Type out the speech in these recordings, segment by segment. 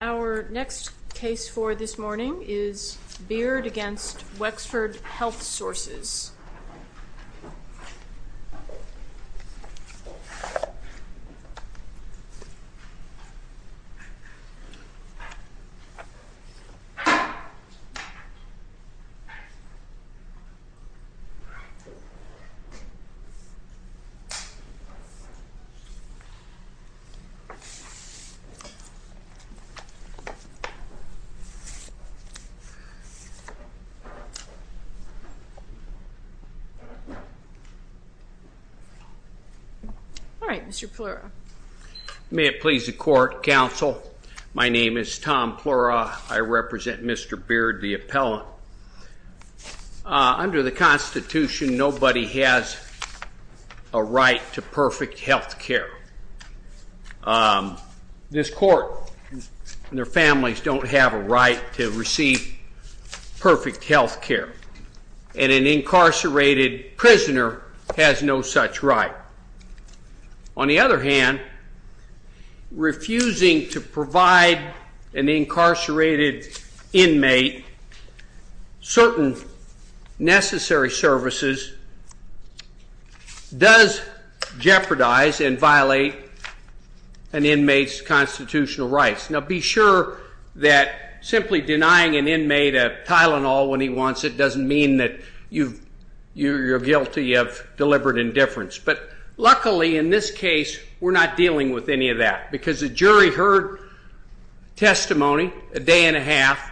Our next case for this morning is Beard v. Wexford Health Sources. All right, Mr. Plura. May it please the court, counsel. My name is Tom Plura. I represent Mr. Beard, the appellant. Under the Constitution, nobody has a right to perfect health care. This court and their families don't have a right to receive perfect health care. And an incarcerated prisoner has no such right. On the other hand, refusing to provide an inmate's constitutional rights. Now, be sure that simply denying an inmate a Tylenol when he wants it doesn't mean that you're guilty of deliberate indifference. But luckily in this case, we're not dealing with any of that. Because the jury heard testimony a day and a half,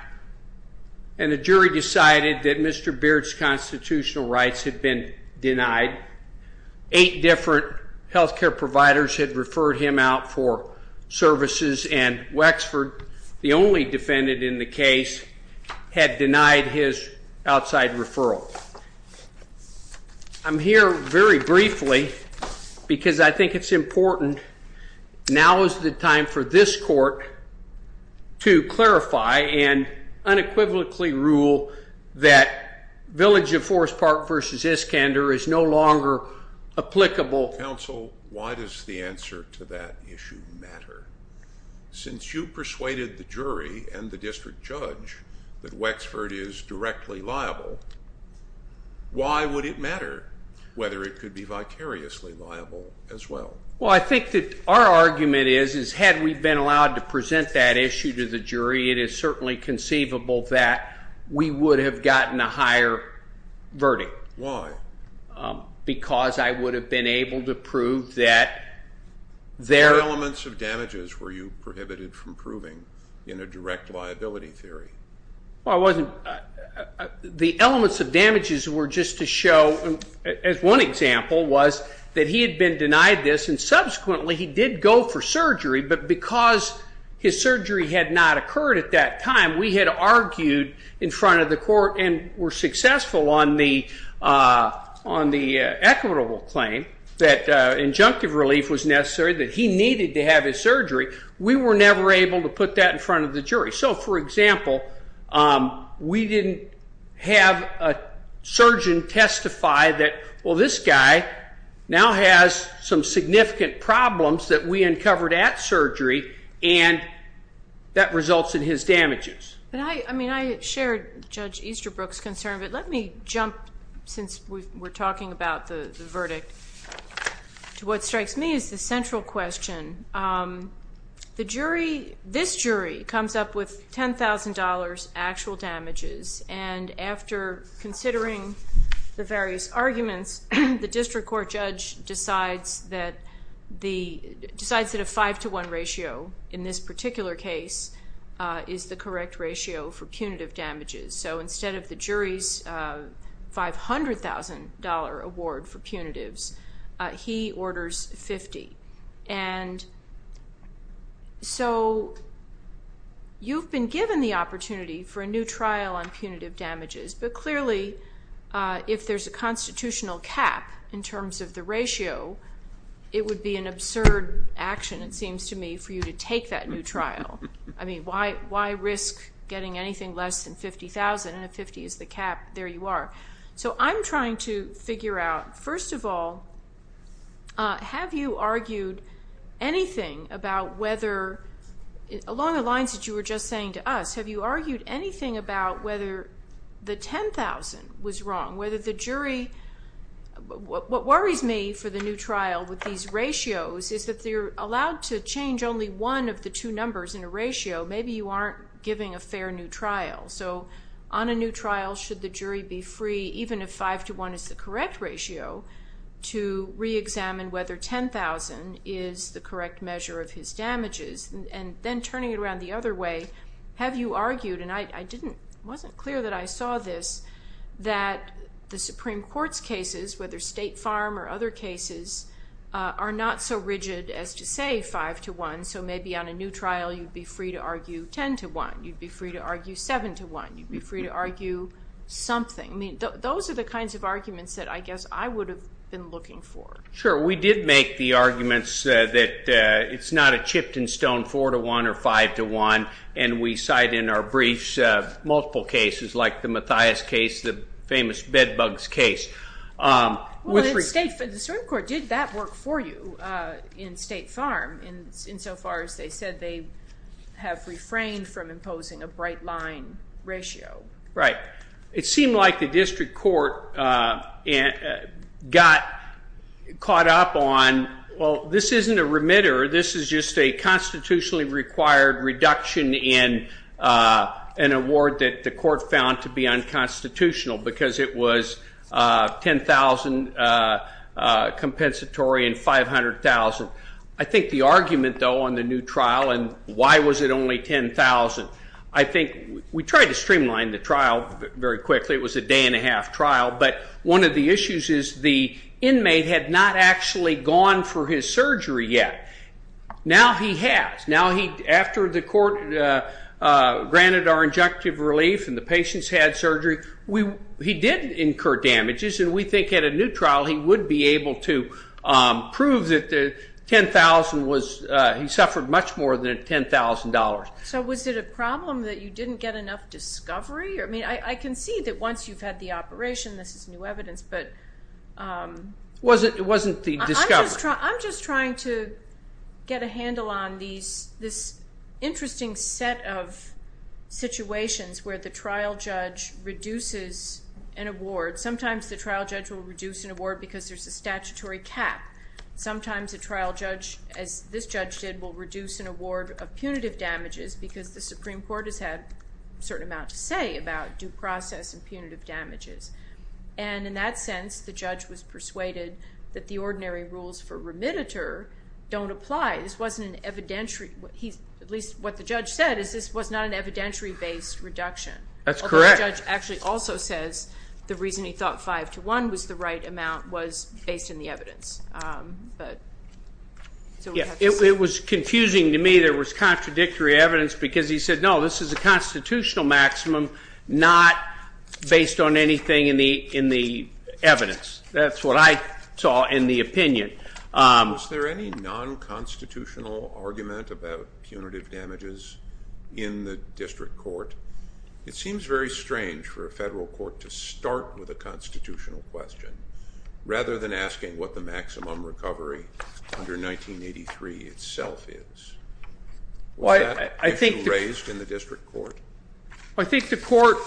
and the jury decided that Mr. Beard's constitutional rights had been denied. Eight different health care providers had referred him out for services, and Wexford, the only defendant in the case, had denied his outside referral. I'm here very briefly because I think it's important now is the time for this court to clarify and unequivocally rule that Village of Forest Park versus Iskander is no longer applicable. Counsel, why does the answer to that issue matter? Since you persuaded the jury and the district judge that Wexford is directly liable, why would it matter whether it could be vicariously liable as well? Well, I think that our argument is, is had we been allowed to present that issue to the jury, it is certainly conceivable that we would have gotten a higher verdict. Why? Because I would have been able to prove that there... What elements of damages were you prohibited from proving in a direct liability theory? The elements of damages were just to show, as one example was, that he had been denied this, and subsequently he did go for surgery, but because his surgery had not occurred at that time, we had argued in front of the court and were successful on the equitable claim that injunctive relief was necessary, that he needed to have his surgery. We were never able to put that in front of the jury. So, for example, we didn't have a surgeon testify that, well, this guy now has some significant problems that we and that results in his damages. But I mean, I shared Judge Easterbrook's concern, but let me jump, since we're talking about the verdict, to what strikes me as the central question. The jury, this jury, comes up with $10,000 actual damages, and after considering the various in this particular case, is the correct ratio for punitive damages. So instead of the jury's $500,000 award for punitives, he orders $50,000. So you've been given the opportunity for a new trial on punitive damages, but clearly if there's a constitutional cap in terms of the ratio, it would be an absurd action, it seems to me, for you to take that new trial. I mean, why risk getting anything less than $50,000, and if $50,000 is the cap, there you are. So I'm trying to figure out, first of all, have you argued anything about whether, along the lines that you were just saying to us, have you argued anything about whether the $10,000 was wrong, whether the jury, what worries me for the new trial with these ratios is that they're allowed to change only one of the two numbers in a ratio, maybe you aren't giving a fair new trial. So on a new trial, should the jury be free, even if 5 to 1 is the correct ratio, to re-examine whether $10,000 is the correct measure of his damages, and then turning it around the other way, have you argued, and I wasn't clear that I saw this, that the Supreme Court's cases, whether State Farm or other cases, are not so rigid as to say 5 to 1, so maybe on a new trial you'd be free to argue 10 to 1, you'd be free to argue 7 to 1, you'd be free to argue something. I mean, those are the kinds of arguments that I guess I would have been looking for. Sure, we did make the arguments that it's not a chipped and stoned 4 to 1 or 5 to 1, and we cite in our briefs multiple cases, like the Mathias case, the famous bedbugs case. The Supreme Court did that work for you in State Farm, insofar as they said they have refrained from imposing a bright line ratio. Right, it seemed like the District Court got caught up on, well, this isn't a remitter, this is just a constitutionally required reduction in an award that the Court found to be unconstitutional, because it was $10,000 compensatory and $500,000. I think the argument, though, on the new trial, and why was it only $10,000, I think we tried to streamline the trial very quickly, it was a day and a half trial, but one of the issues is the inmate had not actually gone for his surgery yet. Now he has. Now after the Court granted our injunctive relief and the patient's had surgery, he did incur damages, and we think at a new trial he would be able to prove that the $10,000 was, he suffered much more than $10,000. So was it a problem that you didn't get enough discovery? I mean, I can see that once you've had the operation, this is new evidence, but... It wasn't the discovery. I'm just trying to get a handle on this interesting set of situations where the trial judge reduces an award. Sometimes the trial judge will reduce an award because there's a statutory cap. Sometimes a trial judge, as this judge did, will reduce an award of punitive damages because the Supreme Court has had a certain amount to say about due process and punitive damages. And in that sense, the judge was persuaded that the ordinary rules for remittiture don't apply. This wasn't an evidentiary, at least what the judge said, is this was not an evidentiary-based reduction. That's correct. Although the judge actually also says the reason he thought 5-1 was the right amount was based in the evidence. It was confusing to me there was contradictory evidence because he said, no, this is a constitutional maximum, not based on anything in the evidence. That's what I saw in the opinion. Was there any non-constitutional argument about punitive damages in the district court? It seems very strange for a federal court to start with a constitutional question rather than asking what the maximum recovery under 1983 itself is. Was that issue raised in the district court? I think the court,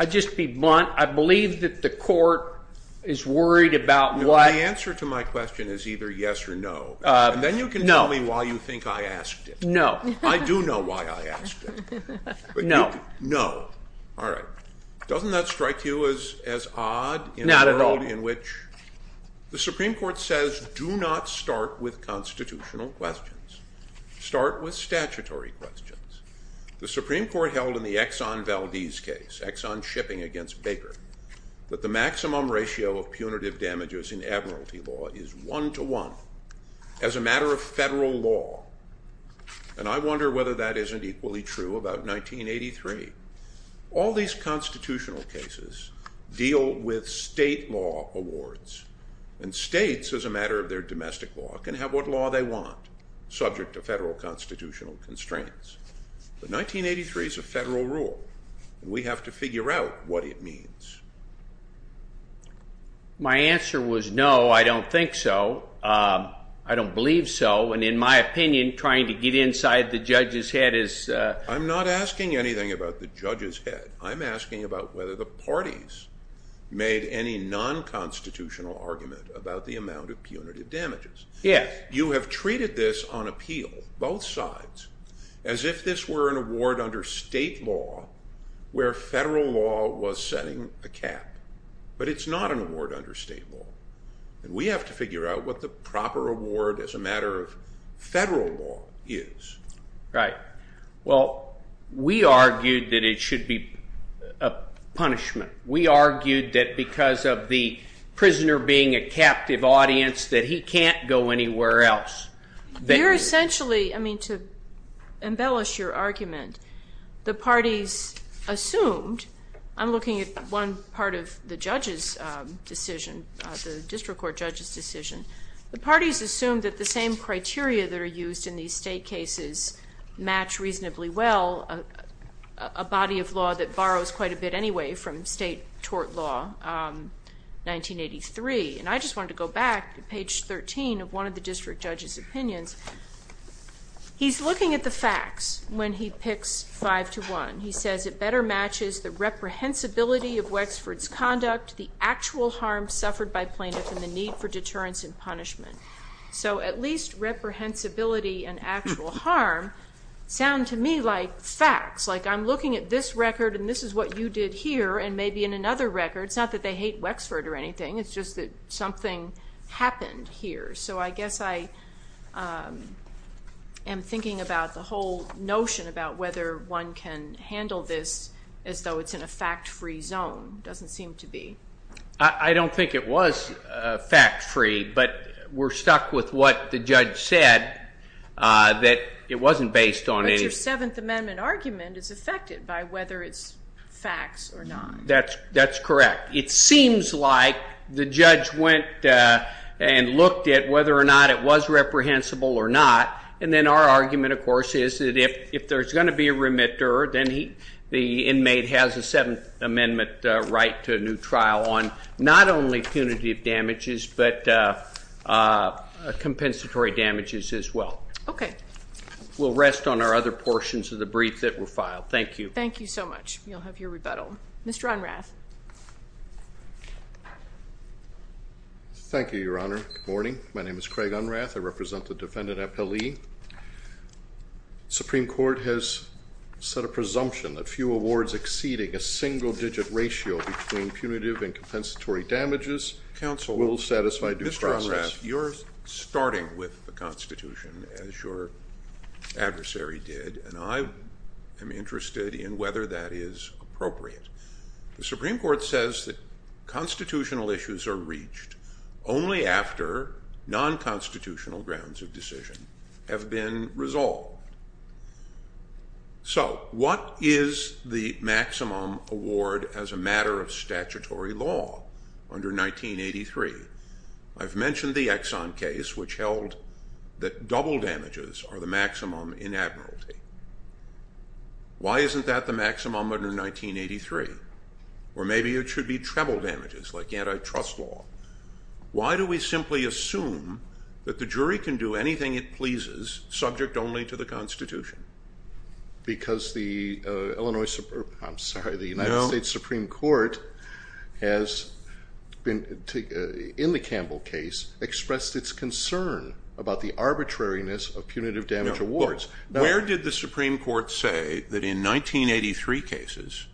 I'd just be blunt, I believe that the court is worried about what- The answer to my question is either yes or no. Then you can tell me why you think I asked it. No. I do know why I asked it. No. No. All right. Doesn't that strike you as odd? Not at all. In which the Supreme Court says, do not start with constitutional questions. Start with statutory questions. The Supreme Court held in the Exxon Valdez case, Exxon shipping against Baker, that the maximum ratio of punitive damages in admiralty law is one to one as a matter of federal law. And I wonder whether that isn't equally true about 1983. All these constitutional cases deal with state law awards. And states as a matter of their domestic law can have what law they want subject to federal constitutional constraints. But 1983 is a federal rule. We have to figure out what it means. My answer was no, I don't think so. I don't believe so. And in my opinion, trying to get inside the judge's head is- I'm not asking anything about the judge's head. I'm asking about whether the parties made any non-constitutional argument about the amount of punitive damages. You have treated this on appeal, both sides, as if this were an award under state law where federal law was setting a cap. But it's not an proper award as a matter of federal law is. Right. Well, we argued that it should be a punishment. We argued that because of the prisoner being a captive audience that he can't go anywhere else. You're essentially- I mean, to embellish your argument, the parties assumed- I'm looking at one part of the judge's decision, the district court judge's decision. The parties assumed that the same criteria that are used in these state cases match reasonably well a body of law that borrows quite a bit anyway from state tort law, 1983. And I just wanted to go back to page 13 of one of the district judge's opinions. He's looking at the reprehensibility of Wexford's conduct, the actual harm suffered by plaintiffs, and the need for deterrence and punishment. So at least reprehensibility and actual harm sound to me like facts. Like I'm looking at this record, and this is what you did here, and maybe in another record. It's not that they hate Wexford or anything. It's just that something happened here. So I guess I am thinking about the whole notion about whether one can handle this as though it's in a fact-free zone. It doesn't seem to be. I don't think it was fact-free, but we're stuck with what the judge said, that it wasn't based on any- But your Seventh Amendment argument is affected by whether it's facts or not. That's correct. It seems like the judge went and looked at whether or not it was then the inmate has a Seventh Amendment right to a new trial on not only punitive damages, but compensatory damages as well. Okay. We'll rest on our other portions of the brief that were filed. Thank you. Thank you so much. You'll have your rebuttal. Mr. Unrath. Thank you, Your Honor. Good morning. My name is Craig Unrath. I represent the defendant, Epelee. The Supreme Court has set a presumption that few awards exceeding a single-digit ratio between punitive and compensatory damages will satisfy due process. Counsel, Mr. Unrath, you're starting with the Constitution, as your adversary did, and I am interested in whether that is appropriate. The Supreme Court says that constitutional issues are reached only after nonconstitutional grounds of decision have been resolved. So what is the maximum award as a matter of statutory law under 1983? I've mentioned the Exxon case, which held that double damages are the maximum in admiralty. Why isn't that the maximum under 1983? Or maybe it should be treble that the jury can do anything it pleases, subject only to the Constitution. Because the Illinois, I'm sorry, the United States Supreme Court has been, in the Campbell case, expressed its concern about the arbitrariness of punitive damage awards. Where did the Supreme Court say that in 1983 cases,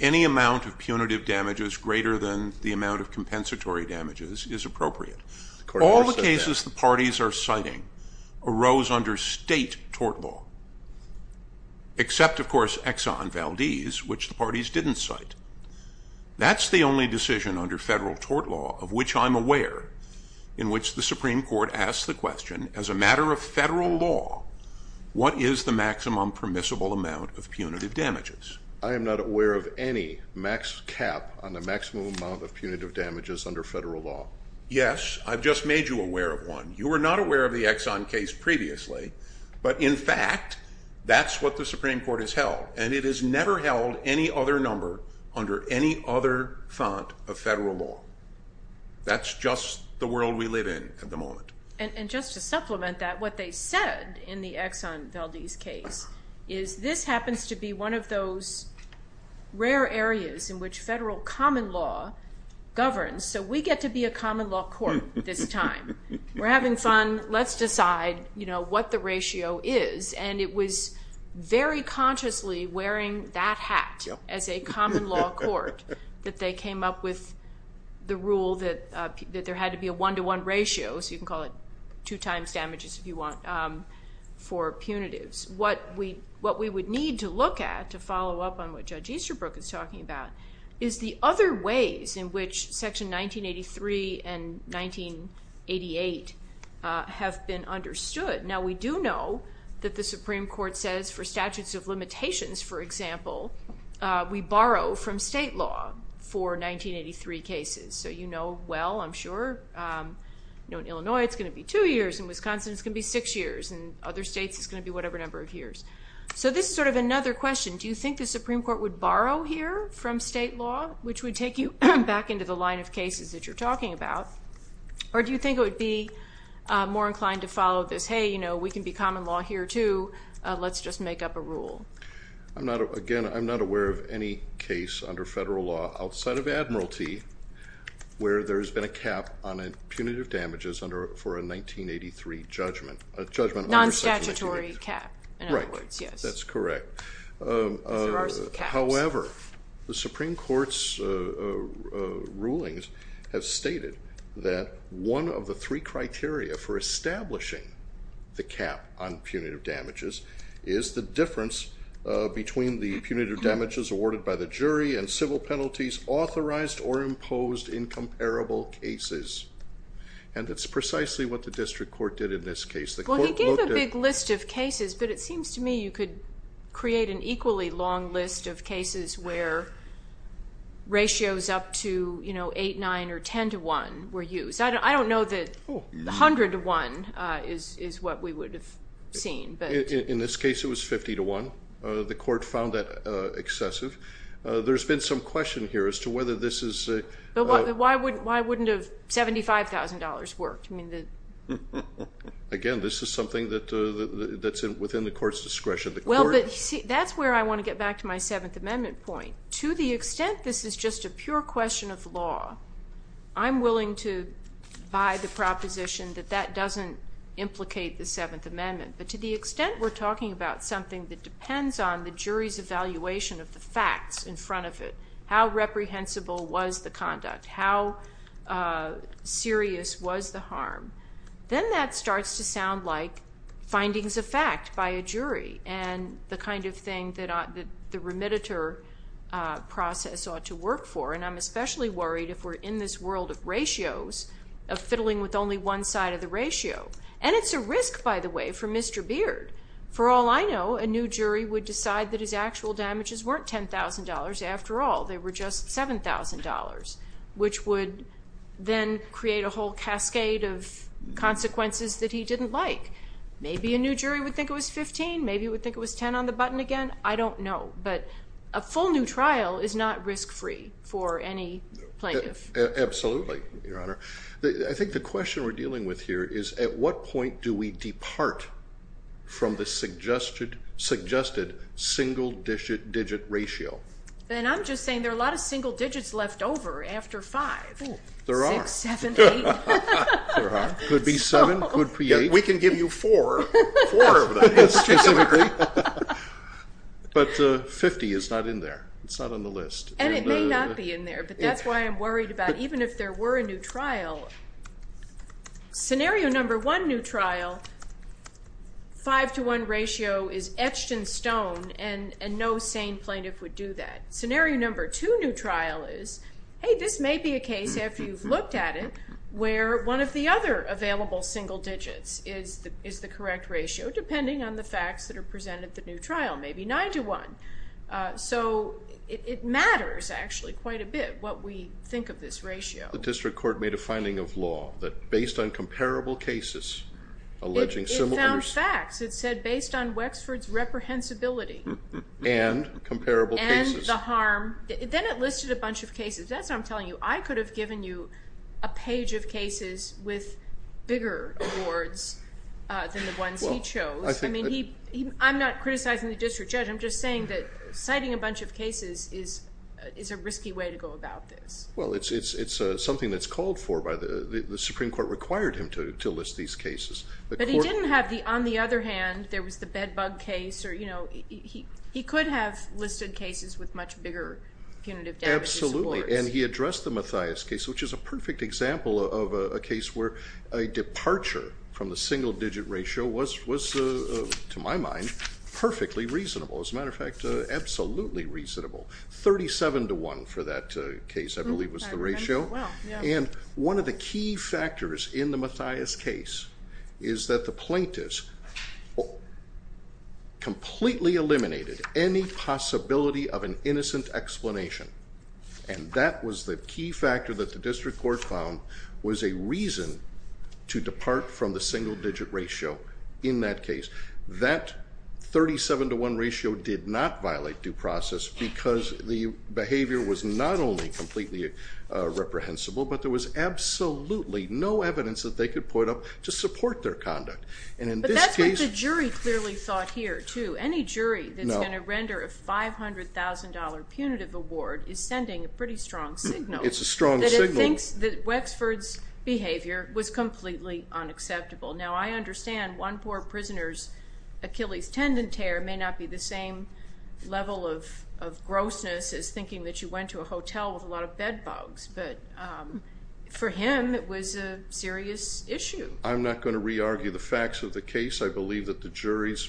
any amount of punitive damages greater than the amount of compensatory damages is appropriate? All the cases the parties are citing arose under state tort law, except of course Exxon Valdez, which the parties didn't cite. That's the only decision under federal tort law of which I'm aware, in which the Supreme Court asks the question, as a matter of federal law, what is the maximum permissible amount of punitive damages under federal law? Yes, I've just made you aware of one. You were not aware of the Exxon case previously, but in fact, that's what the Supreme Court has held. And it has never held any other number under any other font of federal law. That's just the world we live in at the moment. And just to supplement that, what they said in the Exxon Valdez case, is this happens to be one of those rare areas in which federal common law governs. So we get to be a common law court this time. We're having fun. Let's decide what the ratio is. And it was very consciously wearing that hat as a common law court that they came up with the rule that there had to be a one to one ratio, so you can call it two times damages if you want, for punitives. What we would need to look at, to follow up on what Judge Easterbrook is talking about, is the other ways in which section 1983 and 1988 have been understood. Now we do know that the Supreme Court says for statutes of limitations, for example, we borrow from state law for 1983 cases. So you know well, I'm sure, you know, in Illinois it's going to be two years, in Wisconsin it's going to be six years, and other of another question. Do you think the Supreme Court would borrow here from state law, which would take you back into the line of cases that you're talking about? Or do you think it would be more inclined to follow this, hey, you know, we can be common law here too, let's just make up a rule? I'm not, again, I'm not aware of any case under federal law outside of Admiralty where there's been a cap on punitive damages under, for a 1983 judgment. A judgment under 1983. Non-statutory cap, in other words, yes. That's correct. However, the Supreme Court's rulings have stated that one of the three criteria for establishing the cap on punitive damages is the difference between the punitive damages awarded by the jury and civil penalties authorized or imposed in comparable cases. And that's precisely what the district court did in this case. Well he gave a big list of cases, but it seems to me you could create an equally long list of cases where ratios up to, you know, 8, 9, or 10 to 1 were used. I don't know that 100 to 1 is what we would have seen. In this case it was 50 to 1. The court found that excessive. There's been some question here as to whether this is... But why wouldn't, why wouldn't have $75,000 worked? I mean, Again, this is something that's within the court's discretion. Well, that's where I want to get back to my Seventh Amendment point. To the extent this is just a pure question of law, I'm willing to buy the proposition that that doesn't implicate the Seventh Amendment. But to the extent we're talking about something that depends on the jury's evaluation of the facts in front of it, how reprehensible was the conduct, how serious was the harm, then that starts to sound like findings of fact by a jury and the kind of thing that the remediator process ought to work for. And I'm especially worried if we're in this world of ratios, of fiddling with only one side of the ratio. And it's a risk, by the way, for Mr. Beard. For all I know, a new jury would decide that his actual damages weren't $10,000. After all, they were just $7,000, which would then create a whole cascade of consequences that he didn't like. Maybe a new jury would think it was $15,000. Maybe it would think it was $10,000 on the button again. I don't know. But a full new trial is not risk-free for any plaintiff. Absolutely, Your Honor. I think the question we're dealing with here is, at what point do we depart from the suggested single-digit ratio? And I'm just saying there are a lot of single digits left over after five. There are. Six, seven, eight. There are. Could be seven, could be eight. We can give you four. Four of them, specifically. But 50 is not in there. It's not on the list. And it may not be in there. But that's why I'm worried about, even if there were a new trial, scenario number one new trial, five-to-one ratio is etched in stone, and no sane plaintiff would do that. Scenario number two new trial is, hey, this may be a case, after you've looked at it, where one of the other available single digits is the correct ratio, depending on the facts that trial. Maybe nine-to-one. So it matters, actually, quite a bit, what we think of this ratio. The district court made a finding of law that, based on comparable cases, alleging similar... It found facts. It said, based on Wexford's reprehensibility. And comparable cases. And the harm. Then it listed a bunch of cases. That's what I'm telling you. I could have given you a page of cases with bigger awards than the ones he chose. I mean, I'm not the district judge. I'm just saying that citing a bunch of cases is a risky way to go about this. Well, it's something that's called for by the... The Supreme Court required him to list these cases. But he didn't have the... On the other hand, there was the Bedbug case, or... He could have listed cases with much bigger punitive damages awards. Absolutely. And he addressed the Mathias case, which is a perfect example of a case where a departure from the single-digit ratio was, to my mind, perfectly reasonable. As a matter of fact, absolutely reasonable. 37 to 1 for that case, I believe, was the ratio. And one of the key factors in the Mathias case is that the plaintiffs completely eliminated any possibility of an innocent explanation. And that was the key factor that the district court found was a reason to depart from the in that case. That 37 to 1 ratio did not violate due process because the behavior was not only completely reprehensible, but there was absolutely no evidence that they could put up to support their conduct. And in this case... But that's what the jury clearly thought here, too. Any jury that's going to render a $500,000 punitive award is sending a pretty strong signal. It's a strong signal. That it thinks that Wexford's behavior was completely unacceptable. Now, I understand one poor prisoner's Achilles tendon tear may not be the same level of grossness as thinking that you went to a hotel with a lot of bedbugs. But for him, it was a serious issue. I'm not going to re-argue the facts of the case. I believe that the juries...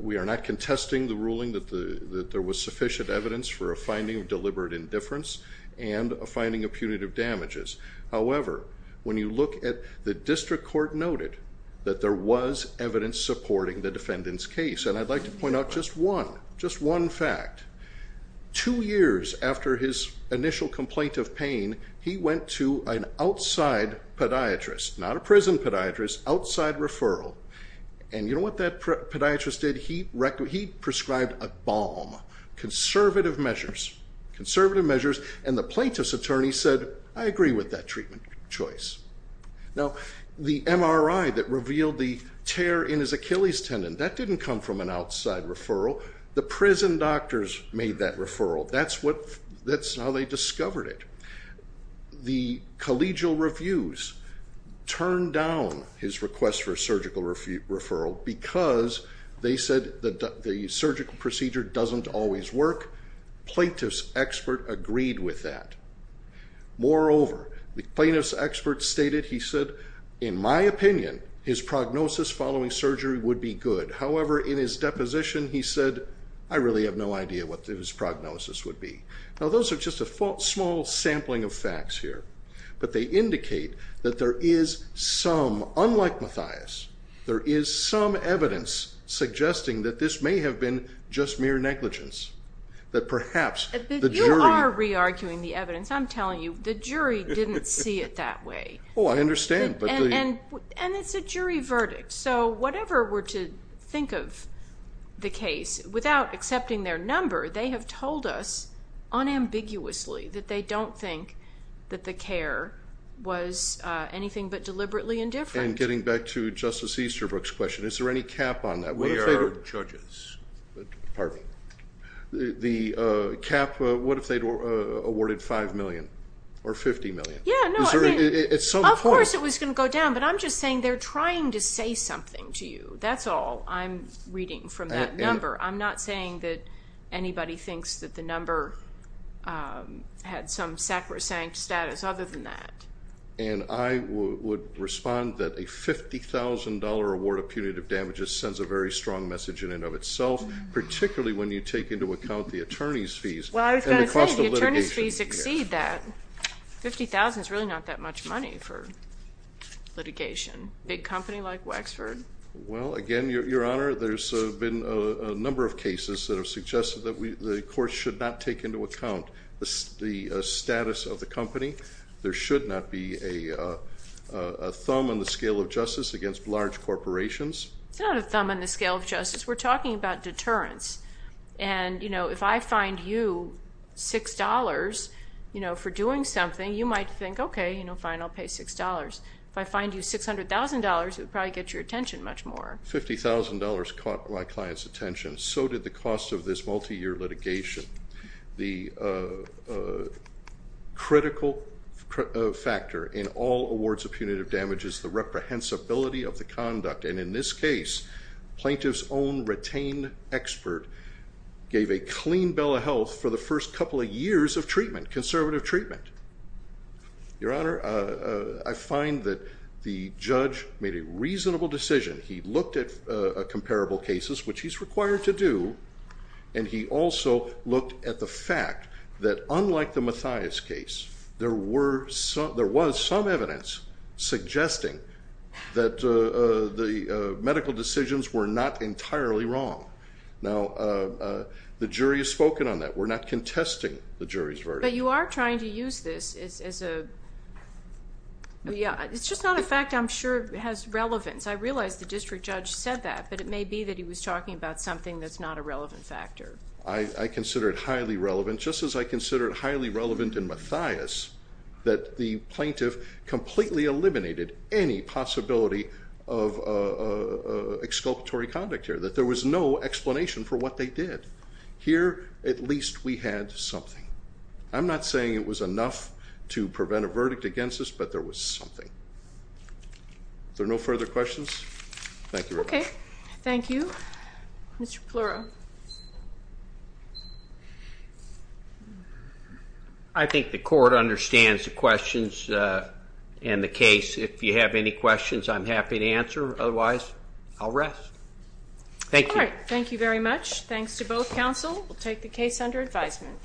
We are not contesting the ruling that there was sufficient evidence for a finding of deliberate indifference and a finding of punitive damages. However, when you look at the district court noted that there was evidence supporting the defendant's case. And I'd like to point out just one, just one fact. Two years after his initial complaint of pain, he went to an outside podiatrist, not a prison podiatrist, outside conservative measures. And the plaintiff's attorney said, I agree with that treatment choice. Now, the MRI that revealed the tear in his Achilles tendon, that didn't come from an outside referral. The prison doctors made that referral. That's how they discovered it. The collegial reviews turned down his request for a surgical referral because they said that the surgical procedure doesn't always work. Plaintiff's expert agreed with that. Moreover, the plaintiff's expert stated, he said, in my opinion, his prognosis following surgery would be good. However, in his deposition, he said, I really have no idea what his prognosis would be. Now, those are just a small sampling of facts here, but they indicate that there is some, unlike Mathias, there is some evidence suggesting that this may have been just mere negligence, that perhaps the jury... You are re-arguing the evidence. I'm telling you, the jury didn't see it that way. Oh, I understand. And it's a jury verdict. So whatever we're to think of the case, without accepting their number, they have told us unambiguously that they don't think that the care was anything but deliberately indifferent. And getting back to Justice Easterbrook's question, is there any cap on that? We are judges. Pardon me. The cap, what if they'd awarded 5 million or 50 million? Yeah, no, I mean, of course it was going to go down, but I'm just saying they're trying to say something to you. That's all I'm reading from that number. I'm not saying that other than that. And I would respond that a $50,000 award of punitive damages sends a very strong message in and of itself, particularly when you take into account the attorney's fees. Well, I was going to say, the attorney's fees exceed that. $50,000 is really not that much money for litigation. Big company like Wexford. Well, again, Your Honor, there's been a number of cases that suggested that the court should not take into account the status of the company. There should not be a thumb on the scale of justice against large corporations. It's not a thumb on the scale of justice. We're talking about deterrence. And if I fine you $6 for doing something, you might think, okay, fine, I'll pay $6. If I fine you $600,000, it would probably get your attention much more. $50,000 caught my client's attention. So did the cost of this multi-year litigation. The critical factor in all awards of punitive damage is the reprehensibility of the conduct. And in this case, plaintiff's own retained expert gave a clean bill of health for the first couple of years of treatment, conservative treatment. Your Honor, I find that the judge made a reasonable decision. He looked at comparable cases, which he's required to do, and he also looked at the fact that unlike the Mathias case, there was some evidence suggesting that the medical decisions were not entirely wrong. Now, the jury has spoken on that. We're not contesting the jury's verdict. You are trying to use this as a, yeah, it's just not a fact I'm sure has relevance. I realize the district judge said that, but it may be that he was talking about something that's not a relevant factor. I consider it highly relevant, just as I consider it highly relevant in Mathias, that the plaintiff completely eliminated any possibility of exculpatory conduct here, there was no explanation for what they did. Here, at least we had something. I'm not saying it was enough to prevent a verdict against us, but there was something. Are there no further questions? Thank you. Okay, thank you. Mr. Plura. I think the court understands the questions and the case. If you have any questions, I'm happy to answer. Otherwise, I'll rest. Thank you. All right, thank you very much. Thanks to both counsel. We'll take the case under advisement.